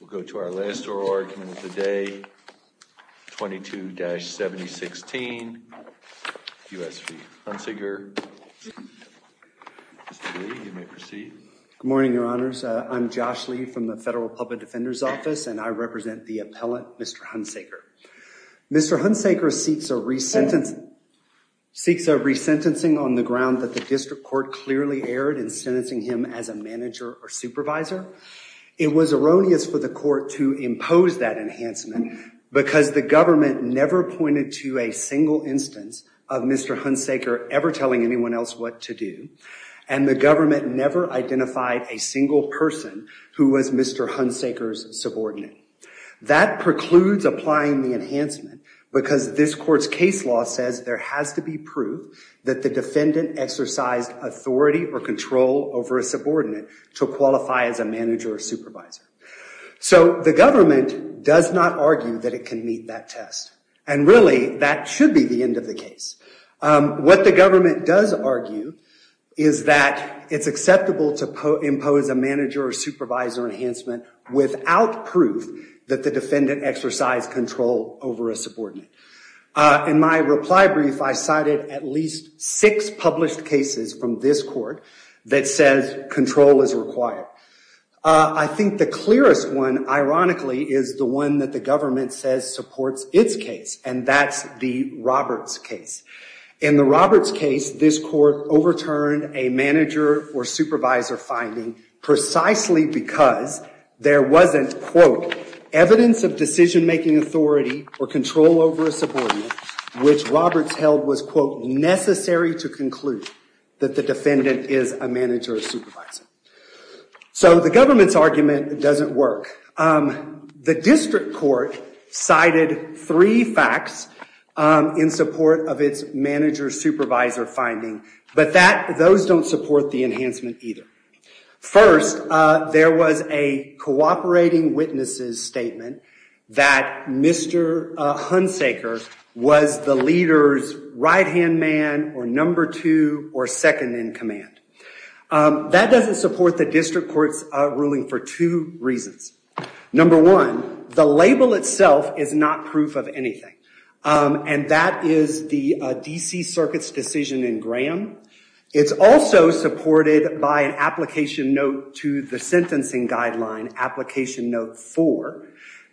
We'll go to our last oral argument of the day, 22-7016, U.S. v. Hunsaker. Mr. Lee, you may proceed. Good morning, your honors. I'm Josh Lee from the Federal Public Defender's Office, and I represent the appellate Mr. Hunsaker. Mr. Hunsaker seeks a resentencing on the ground that the district court clearly erred in sentencing him as a manager or supervisor. It was erroneous for the court to impose that enhancement because the government never pointed to a single instance of Mr. Hunsaker ever telling anyone else what to do, and the government never identified a single person who was Mr. Hunsaker's subordinate. That precludes applying the enhancement because this court's case law says there has to be proof that the defendant exercised control over a subordinate. In my reply brief, I cited at least six published cases from this court that says control is required. I think the clearest one, ironically, is the one that the government says supports its case, and that's the Roberts case. In the Roberts case, this court overturned a manager or supervisor finding precisely because there wasn't, quote, evidence of decision-making authority or control over a subordinate, which Roberts held was, quote, to conclude that the defendant is a manager or supervisor. So the government's argument doesn't work. The district court cited three facts in support of its manager-supervisor finding, but those don't support the enhancement either. First, there was a cooperating witnesses statement that Mr. Hunsaker was the leader's right-hand man or number two or second-in-command. That doesn't support the district court's ruling for two reasons. Number one, the label itself is not proof of anything, and that is the D.C. Circuit's decision in Graham. It's also supported by an application note to the sentencing guideline, application note four,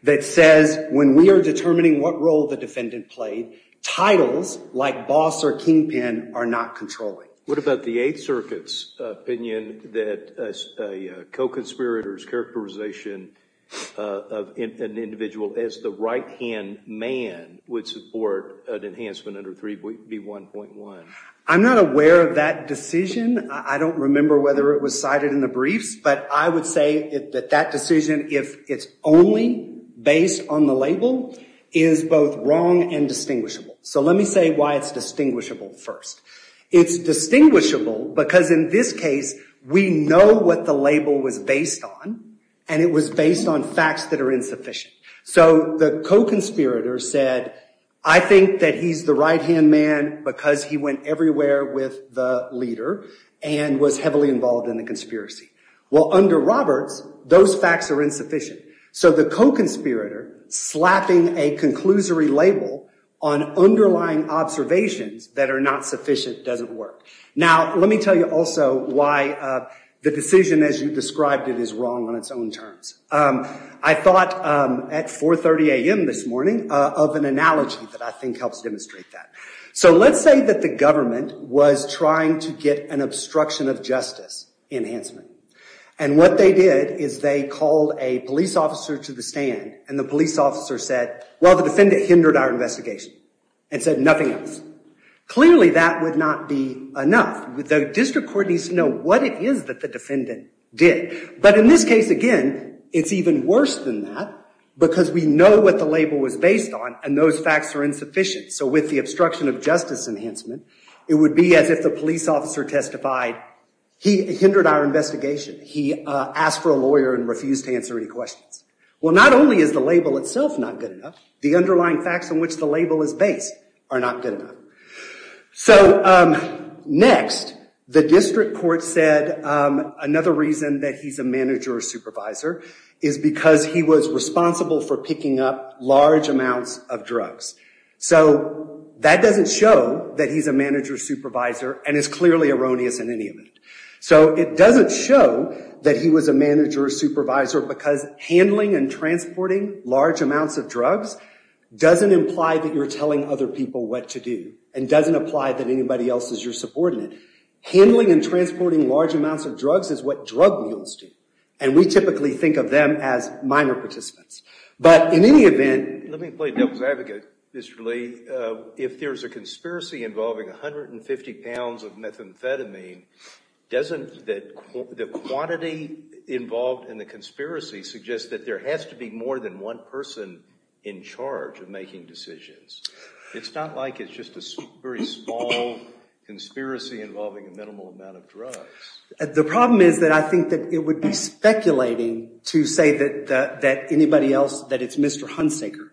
that says when we are determining what role the defendant played, titles like boss or kingpin are not controlling. What about the Eighth Circuit's opinion that a co-conspirator's characterization of an individual as the right-hand man would support an enhancement under 3B1.1? I'm not aware of that decision. I don't remember whether it was cited in the briefs, but I would say that that decision, if it's only based on the label, is both wrong and distinguishable. So let me say why it's distinguishable first. It's distinguishable because in this case, we know what the label was based on, and it was based on facts that are insufficient. So the co-conspirator said, I think that he's the right-hand man because he went everywhere with the leader and was heavily involved in the conspiracy. Well, under Roberts, those facts are insufficient. So the co-conspirator slapping a conclusory label on underlying observations that are not sufficient doesn't work. Now let me tell you also why the decision as you described it is wrong on its own I thought at 4.30 a.m. this morning of an analogy that I think helps demonstrate that. So let's say that the government was trying to get an obstruction of justice enhancement, and what they did is they called a police officer to the stand, and the police officer said, well, the defendant hindered our investigation and said nothing else. Clearly, that would not be enough. The district court needs to know what it is that the defendant did. But in this case, again, it's even worse than that because we know what the label was based on, and those facts are insufficient. So with the obstruction of justice enhancement, it would be as if the police officer testified, he hindered our investigation. He asked for a lawyer and refused to answer any questions. Well, not only is the label itself not good enough, the underlying facts on which the label is based are not good enough. So next, the district court said another reason that he's a manager or supervisor is because he was responsible for picking up large amounts of drugs. So that doesn't show that he's a manager or supervisor, and it's clearly erroneous in any of it. So it doesn't show that he was a manager or supervisor because handling and transporting large amounts of drugs doesn't imply that you're telling other people what to do and doesn't apply that anybody else is your subordinate. Handling and transporting large amounts of drugs is what legal students do, and we typically think of them as minor participants. But in any event... Let me play devil's advocate, Mr. Lee. If there's a conspiracy involving 150 pounds of methamphetamine, the quantity involved in the conspiracy suggests that there has to be more than one person in charge of making decisions. It's not like it's just a very small conspiracy involving a large amount of methamphetamine. I think that it would be speculating to say that anybody else, that it's Mr. Hunsaker,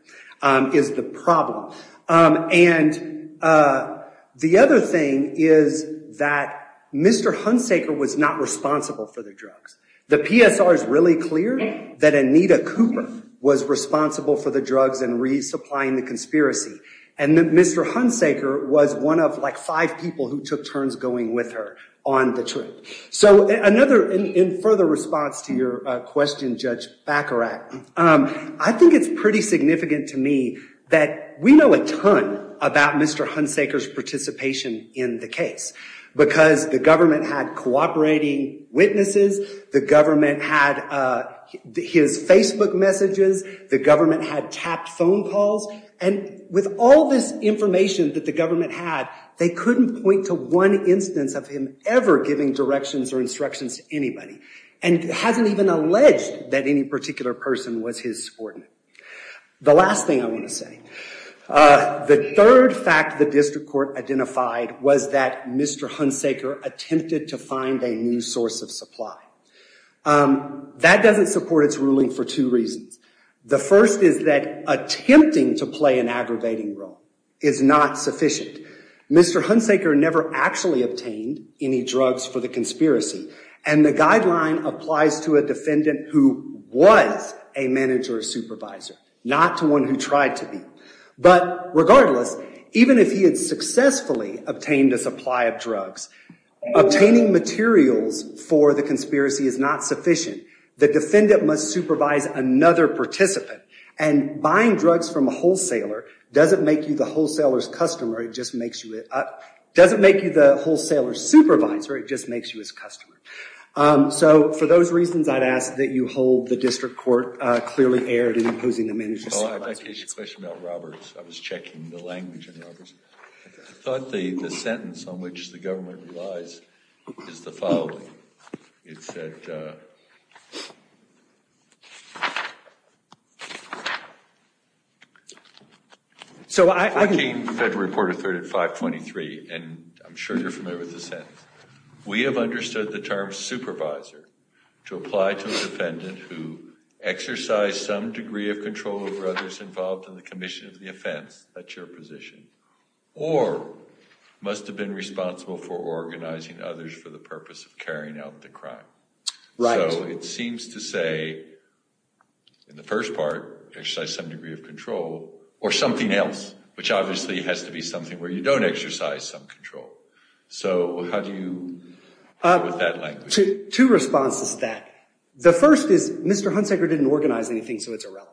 is the problem. And the other thing is that Mr. Hunsaker was not responsible for the drugs. The PSR is really clear that Anita Cooper was responsible for the drugs and resupplying the conspiracy, and that Mr. Hunsaker was one of, like, five people who took turns going with her on the trip. So another, in further response to your question, Judge Baccarat, I think it's pretty significant to me that we know a ton about Mr. Hunsaker's participation in the case, because the government had cooperating witnesses, the government had his Facebook messages, the government had tapped phone calls, and with all this information that the government had, they couldn't point to one instance of him ever giving directions or instructions to anybody, and hasn't even alleged that any particular person was his subordinate. The last thing I want to say, the third fact the district court identified was that Mr. Hunsaker attempted to find a new source of supply. That doesn't support its ruling for two reasons. The first is that attempting to play an aggravating role is not sufficient. Mr. Hunsaker never actually obtained any drugs for the conspiracy, and the guideline applies to a defendant who was a manager or supervisor, not to one who tried to be. But regardless, even if he had successfully obtained a supply of drugs, obtaining materials for the conspiracy is not sufficient. The defendant must supervise another participant, and buying drugs from a wholesaler doesn't make you the wholesaler's supervisor, it just makes you his customer. So for those reasons, I'd ask that you hold the district court clearly aired in opposing the manager's supervisor. I'd like to ask you a question about Roberts. I was checking the language in Roberts. I thought the sentence on which the government relies is the following. It said, so I became federal reporter third at 523, and I'm sure you're familiar with the sentence. We have understood the term supervisor to apply to a defendant who exercised some degree of control over others involved in the commission of the offense, that's your position, or must have been responsible for organizing others for the purpose of carrying out the crime. Right. So it seems to say, in the first part, exercise some degree of control, or something else, which obviously has to be something where you don't exercise some control. So how do you deal with that language? Two responses to that. The first is, Mr. Hunsaker didn't organize anything, so it's irrelevant.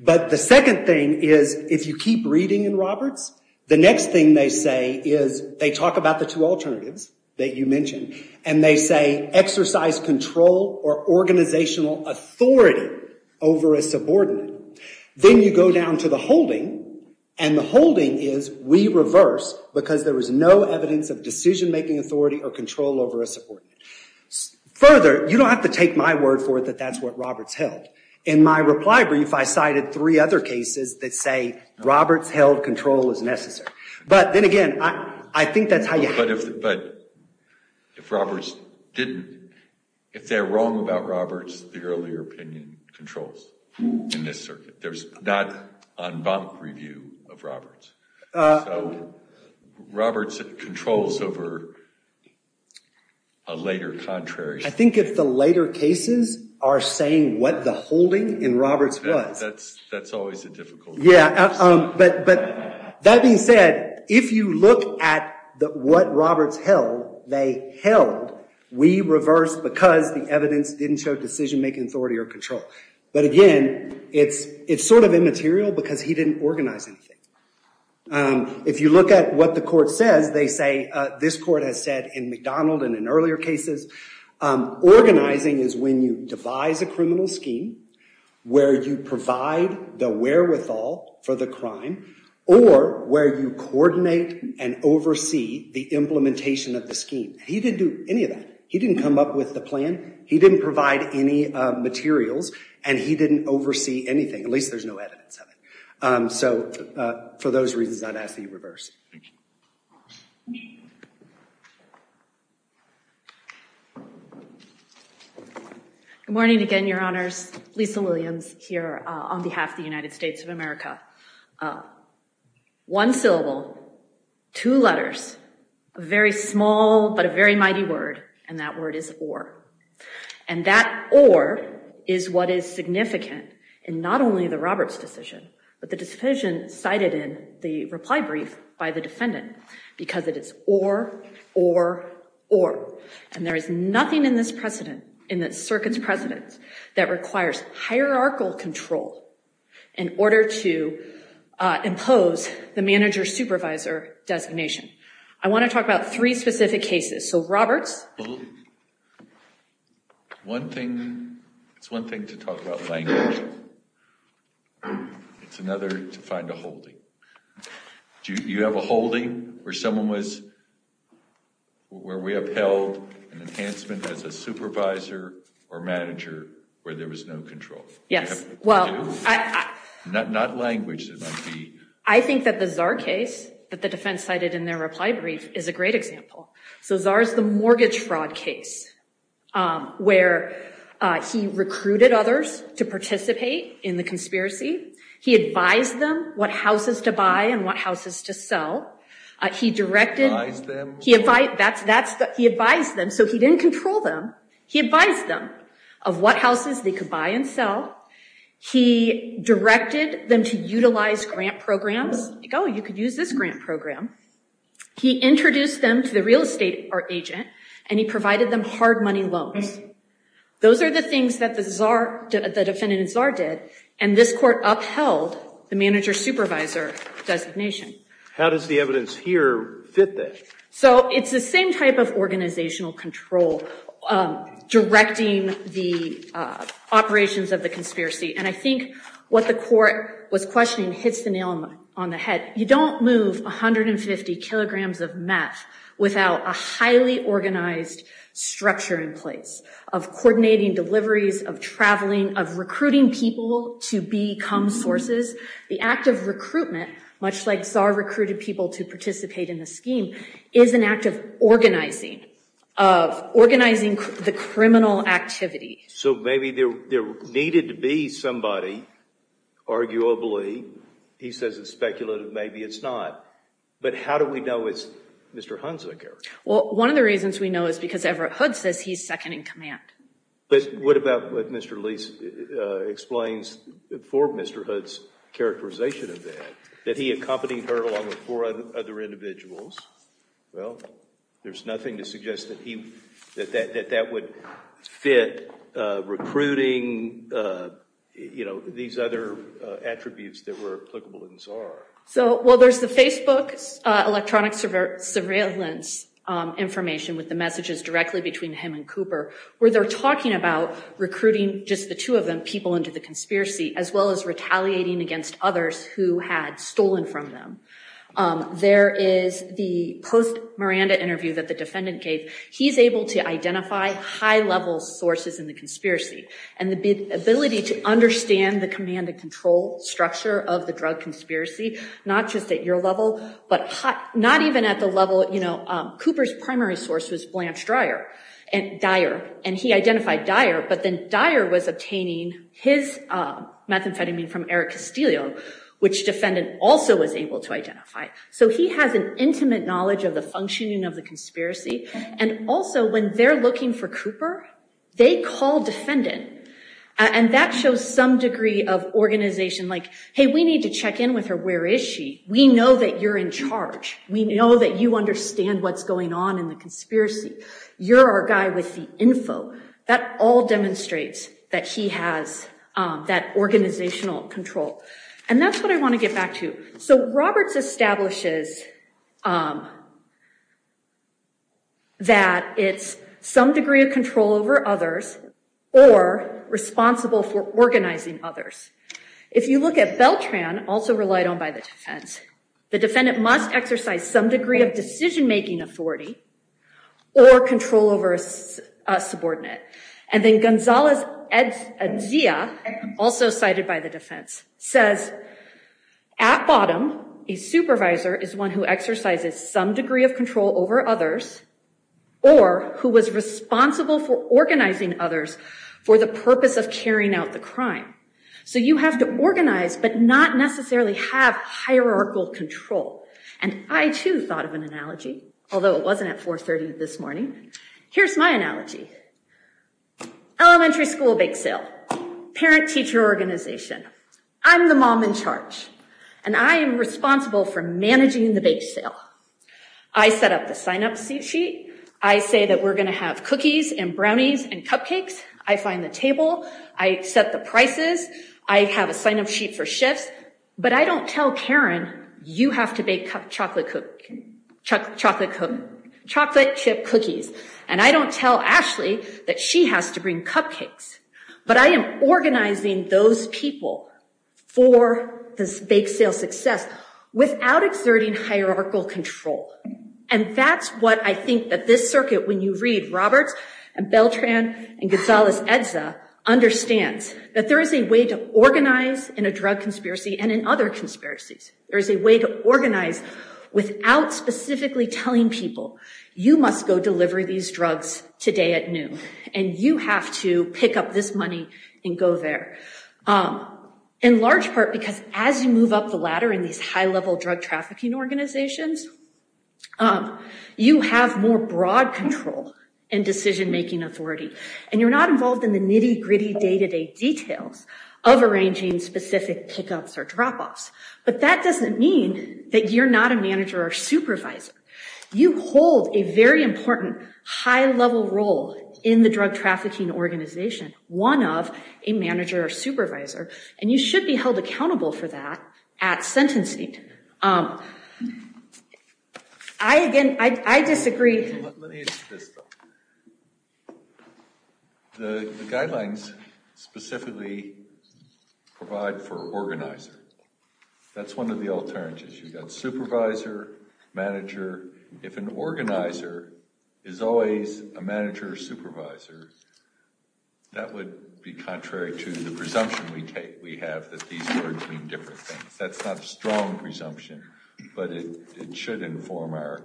But the second thing is, if you keep reading in Roberts, the next thing they say is, they talk about the two alternatives that you mentioned, and they say, exercise control or organizational authority over a subordinate. Then you go down to the holding, and the holding is, we reverse, because there was no evidence of decision-making authority or control over a subordinate. Further, you don't have to take my word for it that that's what Roberts held. In my reply brief, I cited three other cases that say, Roberts held control is necessary. But then again, I think that's how you handle it. But if Roberts didn't, if they're wrong about Roberts, the earlier opinion controls in this circuit. There's not en banc review of Roberts. So Roberts controls over a later contrary. I think if the later cases are saying what the holding in Roberts was. That's always a difficult one. Yeah, but that being said, if you look at what Roberts held, they held, we reverse because the evidence didn't show decision-making authority or control. But again, it's sort of immaterial because he didn't organize anything. If you look at what the court says, they say, this court has said in McDonald and in earlier cases, organizing is when you devise a criminal scheme, where you provide the wherewithal for the crime, or where you coordinate and oversee the implementation of the scheme. He didn't do any of that. He didn't come up with the plan. He didn't provide any materials. And he didn't oversee anything. At least there's evidence of it. So for those reasons, I'd ask that you reverse. Good morning again, Your Honors. Lisa Williams here on behalf of the United States of America. One syllable, two letters, a very small but a very mighty word, and that word is or. And that or is what is significant in not only the Roberts decision, but the decision cited in the reply brief by the defendant, because it is or, or, or. And there is nothing in this precedent, in the circuit's precedent, that requires hierarchical control in order to impose the manager-supervisor designation. I want to talk about three specific cases. So Roberts. Well, one thing, it's one thing to talk about language. It's another to find a holding. Do you have a holding where someone was, where we upheld an enhancement as a supervisor or manager where there was no control? Yes. Well, not language. I think that the Czar case that the defense cited in their reply brief is a great example. So Czar is the mortgage fraud case where he recruited others to participate in the conspiracy. He advised them what houses to buy and what houses to sell. He directed, he advised, that's, that's, he advised them. So he didn't control them. He advised them of what houses they could buy and sell. He directed them to utilize grant programs. Oh, you could use this grant program. He introduced them to the real estate agent and he provided them hard money loans. Those are the things that the Czar, the defendant in Czar did. And this court upheld the manager-supervisor designation. How does the evidence here fit that? So it's the same type of organizational control directing the operations of the conspiracy. And I think what the court was questioning hits the nail on the head. You don't move 150 kilograms of meth without a highly organized structure in place of coordinating deliveries, of traveling, of recruiting people to become sources. The act of recruitment, much like Czar recruited people to participate in the scheme, is an act of organizing, of organizing the criminal activity. So maybe there needed to be somebody. Arguably, he says it's speculative. Maybe it's not. But how do we know it's Mr. Hunza? Well, one of the reasons we know is because Everett Hood says he's second in command. But what about what Mr. Leese explains for Mr. Hood's characterization of that? That he accompanied her along with four other individuals? Well, there's nothing to suggest that he, that that would fit recruiting, you know, these other attributes that were applicable in Czar. So, well, there's the Facebook electronic surveillance information with the messages directly between him and Cooper, where they're talking about recruiting just the two of them, people into the conspiracy, as well as retaliating against others who had stolen from them. There is the post-Miranda interview that the defendant gave. He's able to identify high-level sources in the conspiracy and the ability to understand the command and control structure of the drug conspiracy, not just at your level, but not even at the level, you know, Cooper's primary source was Blanche Dyer, and he identified Dyer, but then Dyer was obtaining his methamphetamine from Eric Castillo, which defendant also was able to identify. So he has an intimate knowledge of the functioning of the conspiracy. And also when they're looking for Cooper, they call defendant, and that shows some degree of organization like, hey, we need to check in with her. Where is she? We know that you're in charge. We know that you understand what's on in the conspiracy. You're our guy with the info. That all demonstrates that he has that organizational control. And that's what I want to get back to. So Roberts establishes that it's some degree of control over others or responsible for organizing others. If you look at Beltran, also relied on by the defense, the defendant must exercise some degree of decision-making authority or control over a subordinate. And then Gonzales-Edea, also cited by the defense, says at bottom, a supervisor is one who exercises some degree of control over others or who was responsible for organizing others for the purpose of carrying out the crime. So you have to organize, but not necessarily have hierarchical control. And I too thought of an analogy, although it wasn't at 4.30 this morning. Here's my analogy. Elementary school bake sale, parent-teacher organization. I'm the mom in charge, and I am responsible for managing the bake sale. I set up the sign-up sheet. I say that we're going to have cookies and brownies and cupcakes. I find the table. I set the prices. I have a sign-up sheet for shifts, but I don't tell Karen, you have to bake chocolate chip cookies. And I don't tell Ashley that she has to bring cupcakes. But I am organizing those people for this bake sale success without exerting hierarchical control. And that's what I think that this circuit, when you read Roberts and Beltran and Gonzales-Edea, understands, that there is a way to organize in a drug conspiracy and in other conspiracies. There is a way to organize without specifically telling people, you must go deliver these drugs today at noon, and you have to pick up this money and go there. In large part, because as you move up the ladder in these high-level drug trafficking organizations, you have more broad control and decision-making authority. And you're not involved in the nitty-gritty day-to-day details of arranging specific pickups or drop-offs. But that doesn't mean that you're not a manager or supervisor. You hold a very important high-level role in the drug trafficking organization, one of a manager or supervisor, and you should be held accountable. The guidelines specifically provide for organizer. That's one of the alternatives. You've got supervisor, manager. If an organizer is always a manager or supervisor, that would be contrary to the presumption we have that these words mean different things. That's not a strong presumption, but it should inform our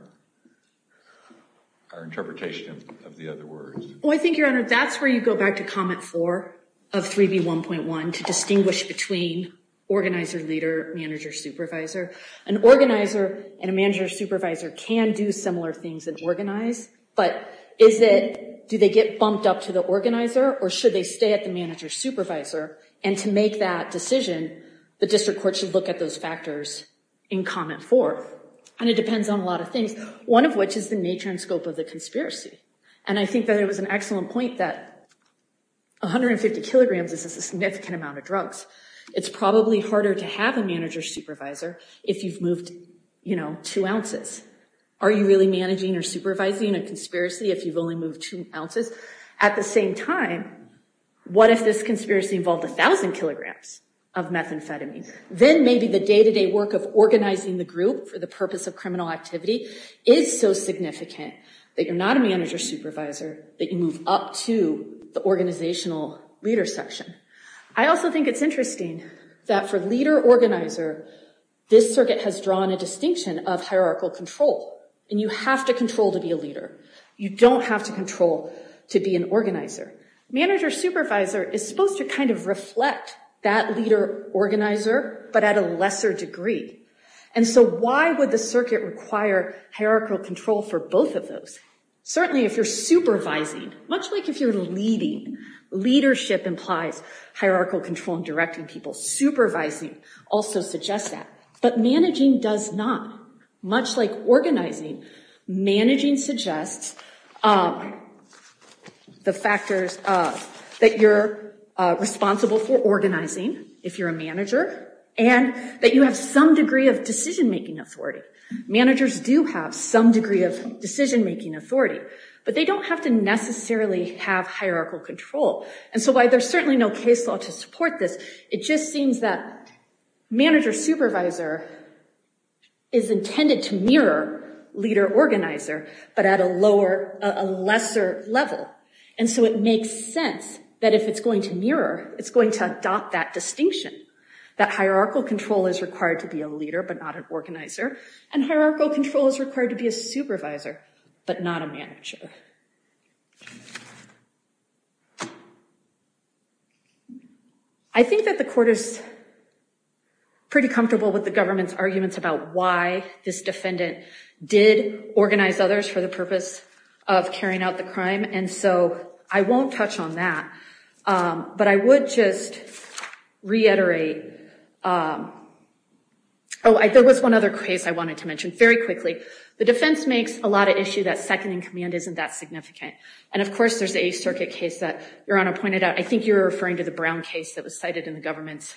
interpretation of the other words. Well, I think, Your Honor, that's where you go back to comment four of 3B1.1, to distinguish between organizer, leader, manager, supervisor. An organizer and a manager or supervisor can do similar things and organize, but is it, do they get bumped up to the organizer, or should they those factors in comment four? And it depends on a lot of things, one of which is the nature and scope of the conspiracy. And I think that it was an excellent point that 150 kilograms is a significant amount of drugs. It's probably harder to have a manager or supervisor if you've moved, you know, two ounces. Are you really managing or supervising a conspiracy if you've only moved two ounces? At the same time, what if this conspiracy involved a thousand kilograms of methamphetamine? Then maybe the day-to-day work of organizing the group for the purpose of criminal activity is so significant that you're not a manager supervisor, that you move up to the organizational leader section. I also think it's interesting that for leader-organizer, this circuit has drawn a distinction of hierarchical control, and you have to control to be a leader. You don't have to control to be an organizer. Manager-supervisor is supposed to kind of reflect that leader-organizer, but at a lesser degree. And so why would the circuit require hierarchical control for both of those? Certainly if you're supervising, much like if you're leading, leadership implies hierarchical control and directing people. Supervising also suggests that, but managing does not. Much like organizing, managing suggests the factors that you're responsible for organizing if you're a manager and that you have some degree of decision-making authority. Managers do have some degree of decision-making authority, but they don't have to necessarily have hierarchical control. And so while there's certainly no case law to support this, it just seems that manager-supervisor is intended to mirror leader-organizer, but at a lower, a lesser level. And so it makes sense that if it's going to mirror, it's going to adopt that distinction, that hierarchical control is required to be a leader, but not an organizer, and hierarchical control is required to be a supervisor, but not a manager. I think that the court is pretty comfortable with the government's arguments about why this defendant did organize others for the purpose of carrying out the crime, and so I won't touch on that, but I would just reiterate, oh, there was one other case I wanted to mention, very quickly. The defense makes a lot of issue that second-in-command isn't the best way to that significant. And of course, there's a circuit case that Your Honor pointed out, I think you're referring to the Brown case that was cited in the government's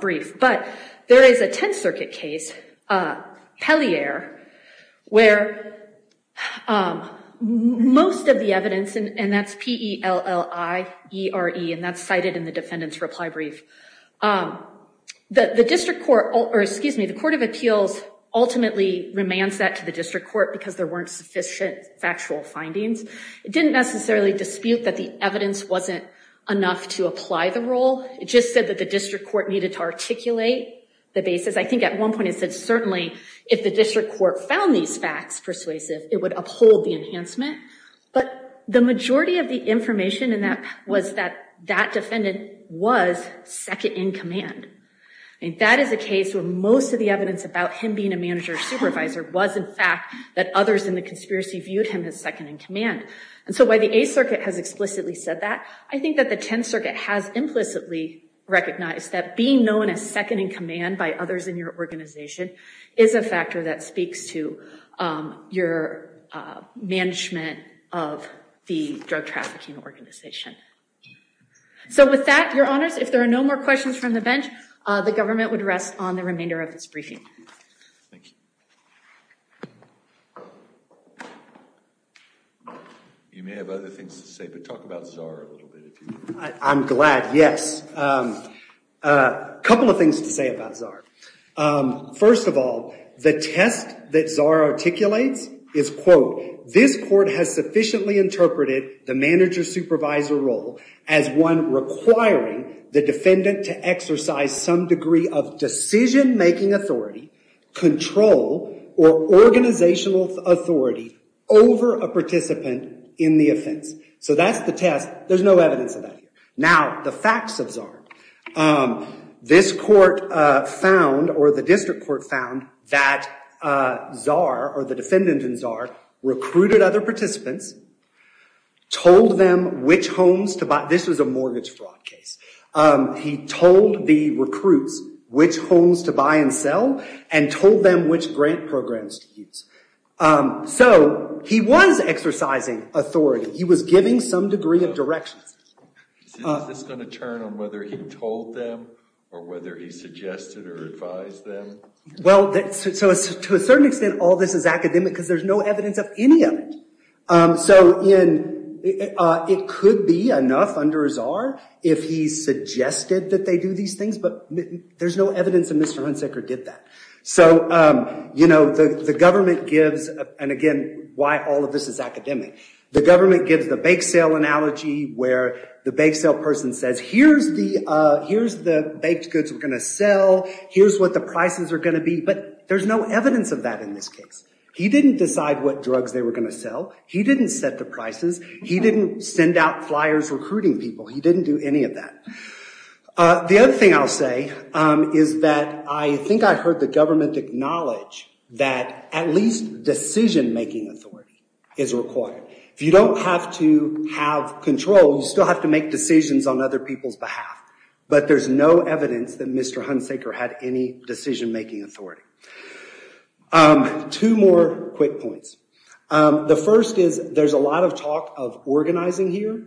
brief, but there is a Tenth Circuit case, Pellier, where most of the evidence, and that's P-E-L-L-I-E-R-E, and that's cited in the defendant's reply brief. The District Court, or excuse me, the Court of Appeals ultimately remands that to the District Court because there weren't sufficient factual findings. It didn't necessarily dispute that the evidence wasn't enough to apply the role, it just said that the District Court needed to articulate the basis. I think at one point it said certainly if the District Court found these facts persuasive, it would uphold the enhancement, but the majority of the information in that was that that defendant was second-in-command. I mean, that is a case where most of the evidence about him being a manager or supervisor was, in fact, that others in the conspiracy viewed him as second-in-command. And so while the Eighth Circuit has explicitly said that, I think that the Tenth Circuit has implicitly recognized that being known as second-in-command by others in your organization is a factor that speaks to your management of the drug trafficking organization. So with that, Your Honors, if there are no more questions from the bench, the government would rest on the remainder of its briefing. You may have other things to say, but talk about Czar a little bit. I'm glad, yes. A couple of things to say about Czar. First of all, the test that Czar articulates is, quote, this court has sufficiently interpreted the manager-supervisor role as one requiring the defendant to exercise some degree of decision-making authority, control, or organizational authority over a participant in the offense. So that's the test. There's no evidence of that. Now, the facts of Czar. This court found, or the district court found, that Czar, or the defendant in Czar, recruited other participants, told them which homes to buy. This was a mortgage fraud case. He told the recruits which homes to buy and sell and told them which grant programs to use. So he was exercising authority. He was giving some degree of direction. Is this going to turn on whether he told them or whether he suggested or advised them? So to a certain extent, all this is academic because there's no evidence of any of it. So it could be enough under a Czar if he suggested that they do these things, but there's no evidence that Mr. Hunsaker did that. So the government gives, and again, why all of this is academic, the government gives the bake sale analogy where the bake sale person says, here's the baked goods we're going to sell. Here's what the prices are going to be. But there's no evidence of that in this case. He didn't decide what drugs they were going to sell. He didn't set the prices. He didn't send out flyers recruiting people. He didn't do any of that. The other thing I'll say is that I think I heard the government acknowledge that at least decision-making authority is required. If you don't have to have control, you still have to make decisions on other people's behalf. But there's no evidence that Mr. Hunsaker had any There's a lot of talk of organizing here.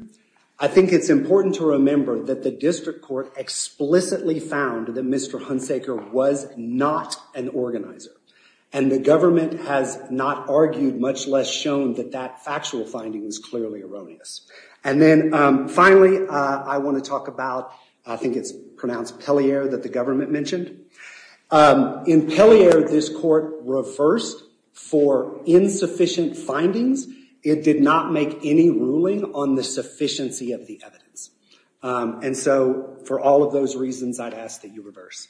I think it's important to remember that the district court explicitly found that Mr. Hunsaker was not an organizer, and the government has not argued, much less shown that that factual finding is clearly erroneous. And then finally, I want to talk about, I think it's pronounced Pellier that the government mentioned. In Pellier, this court reversed for insufficient findings. It did not make any ruling on the sufficiency of the evidence. And so for all of those reasons, I'd ask that you reverse.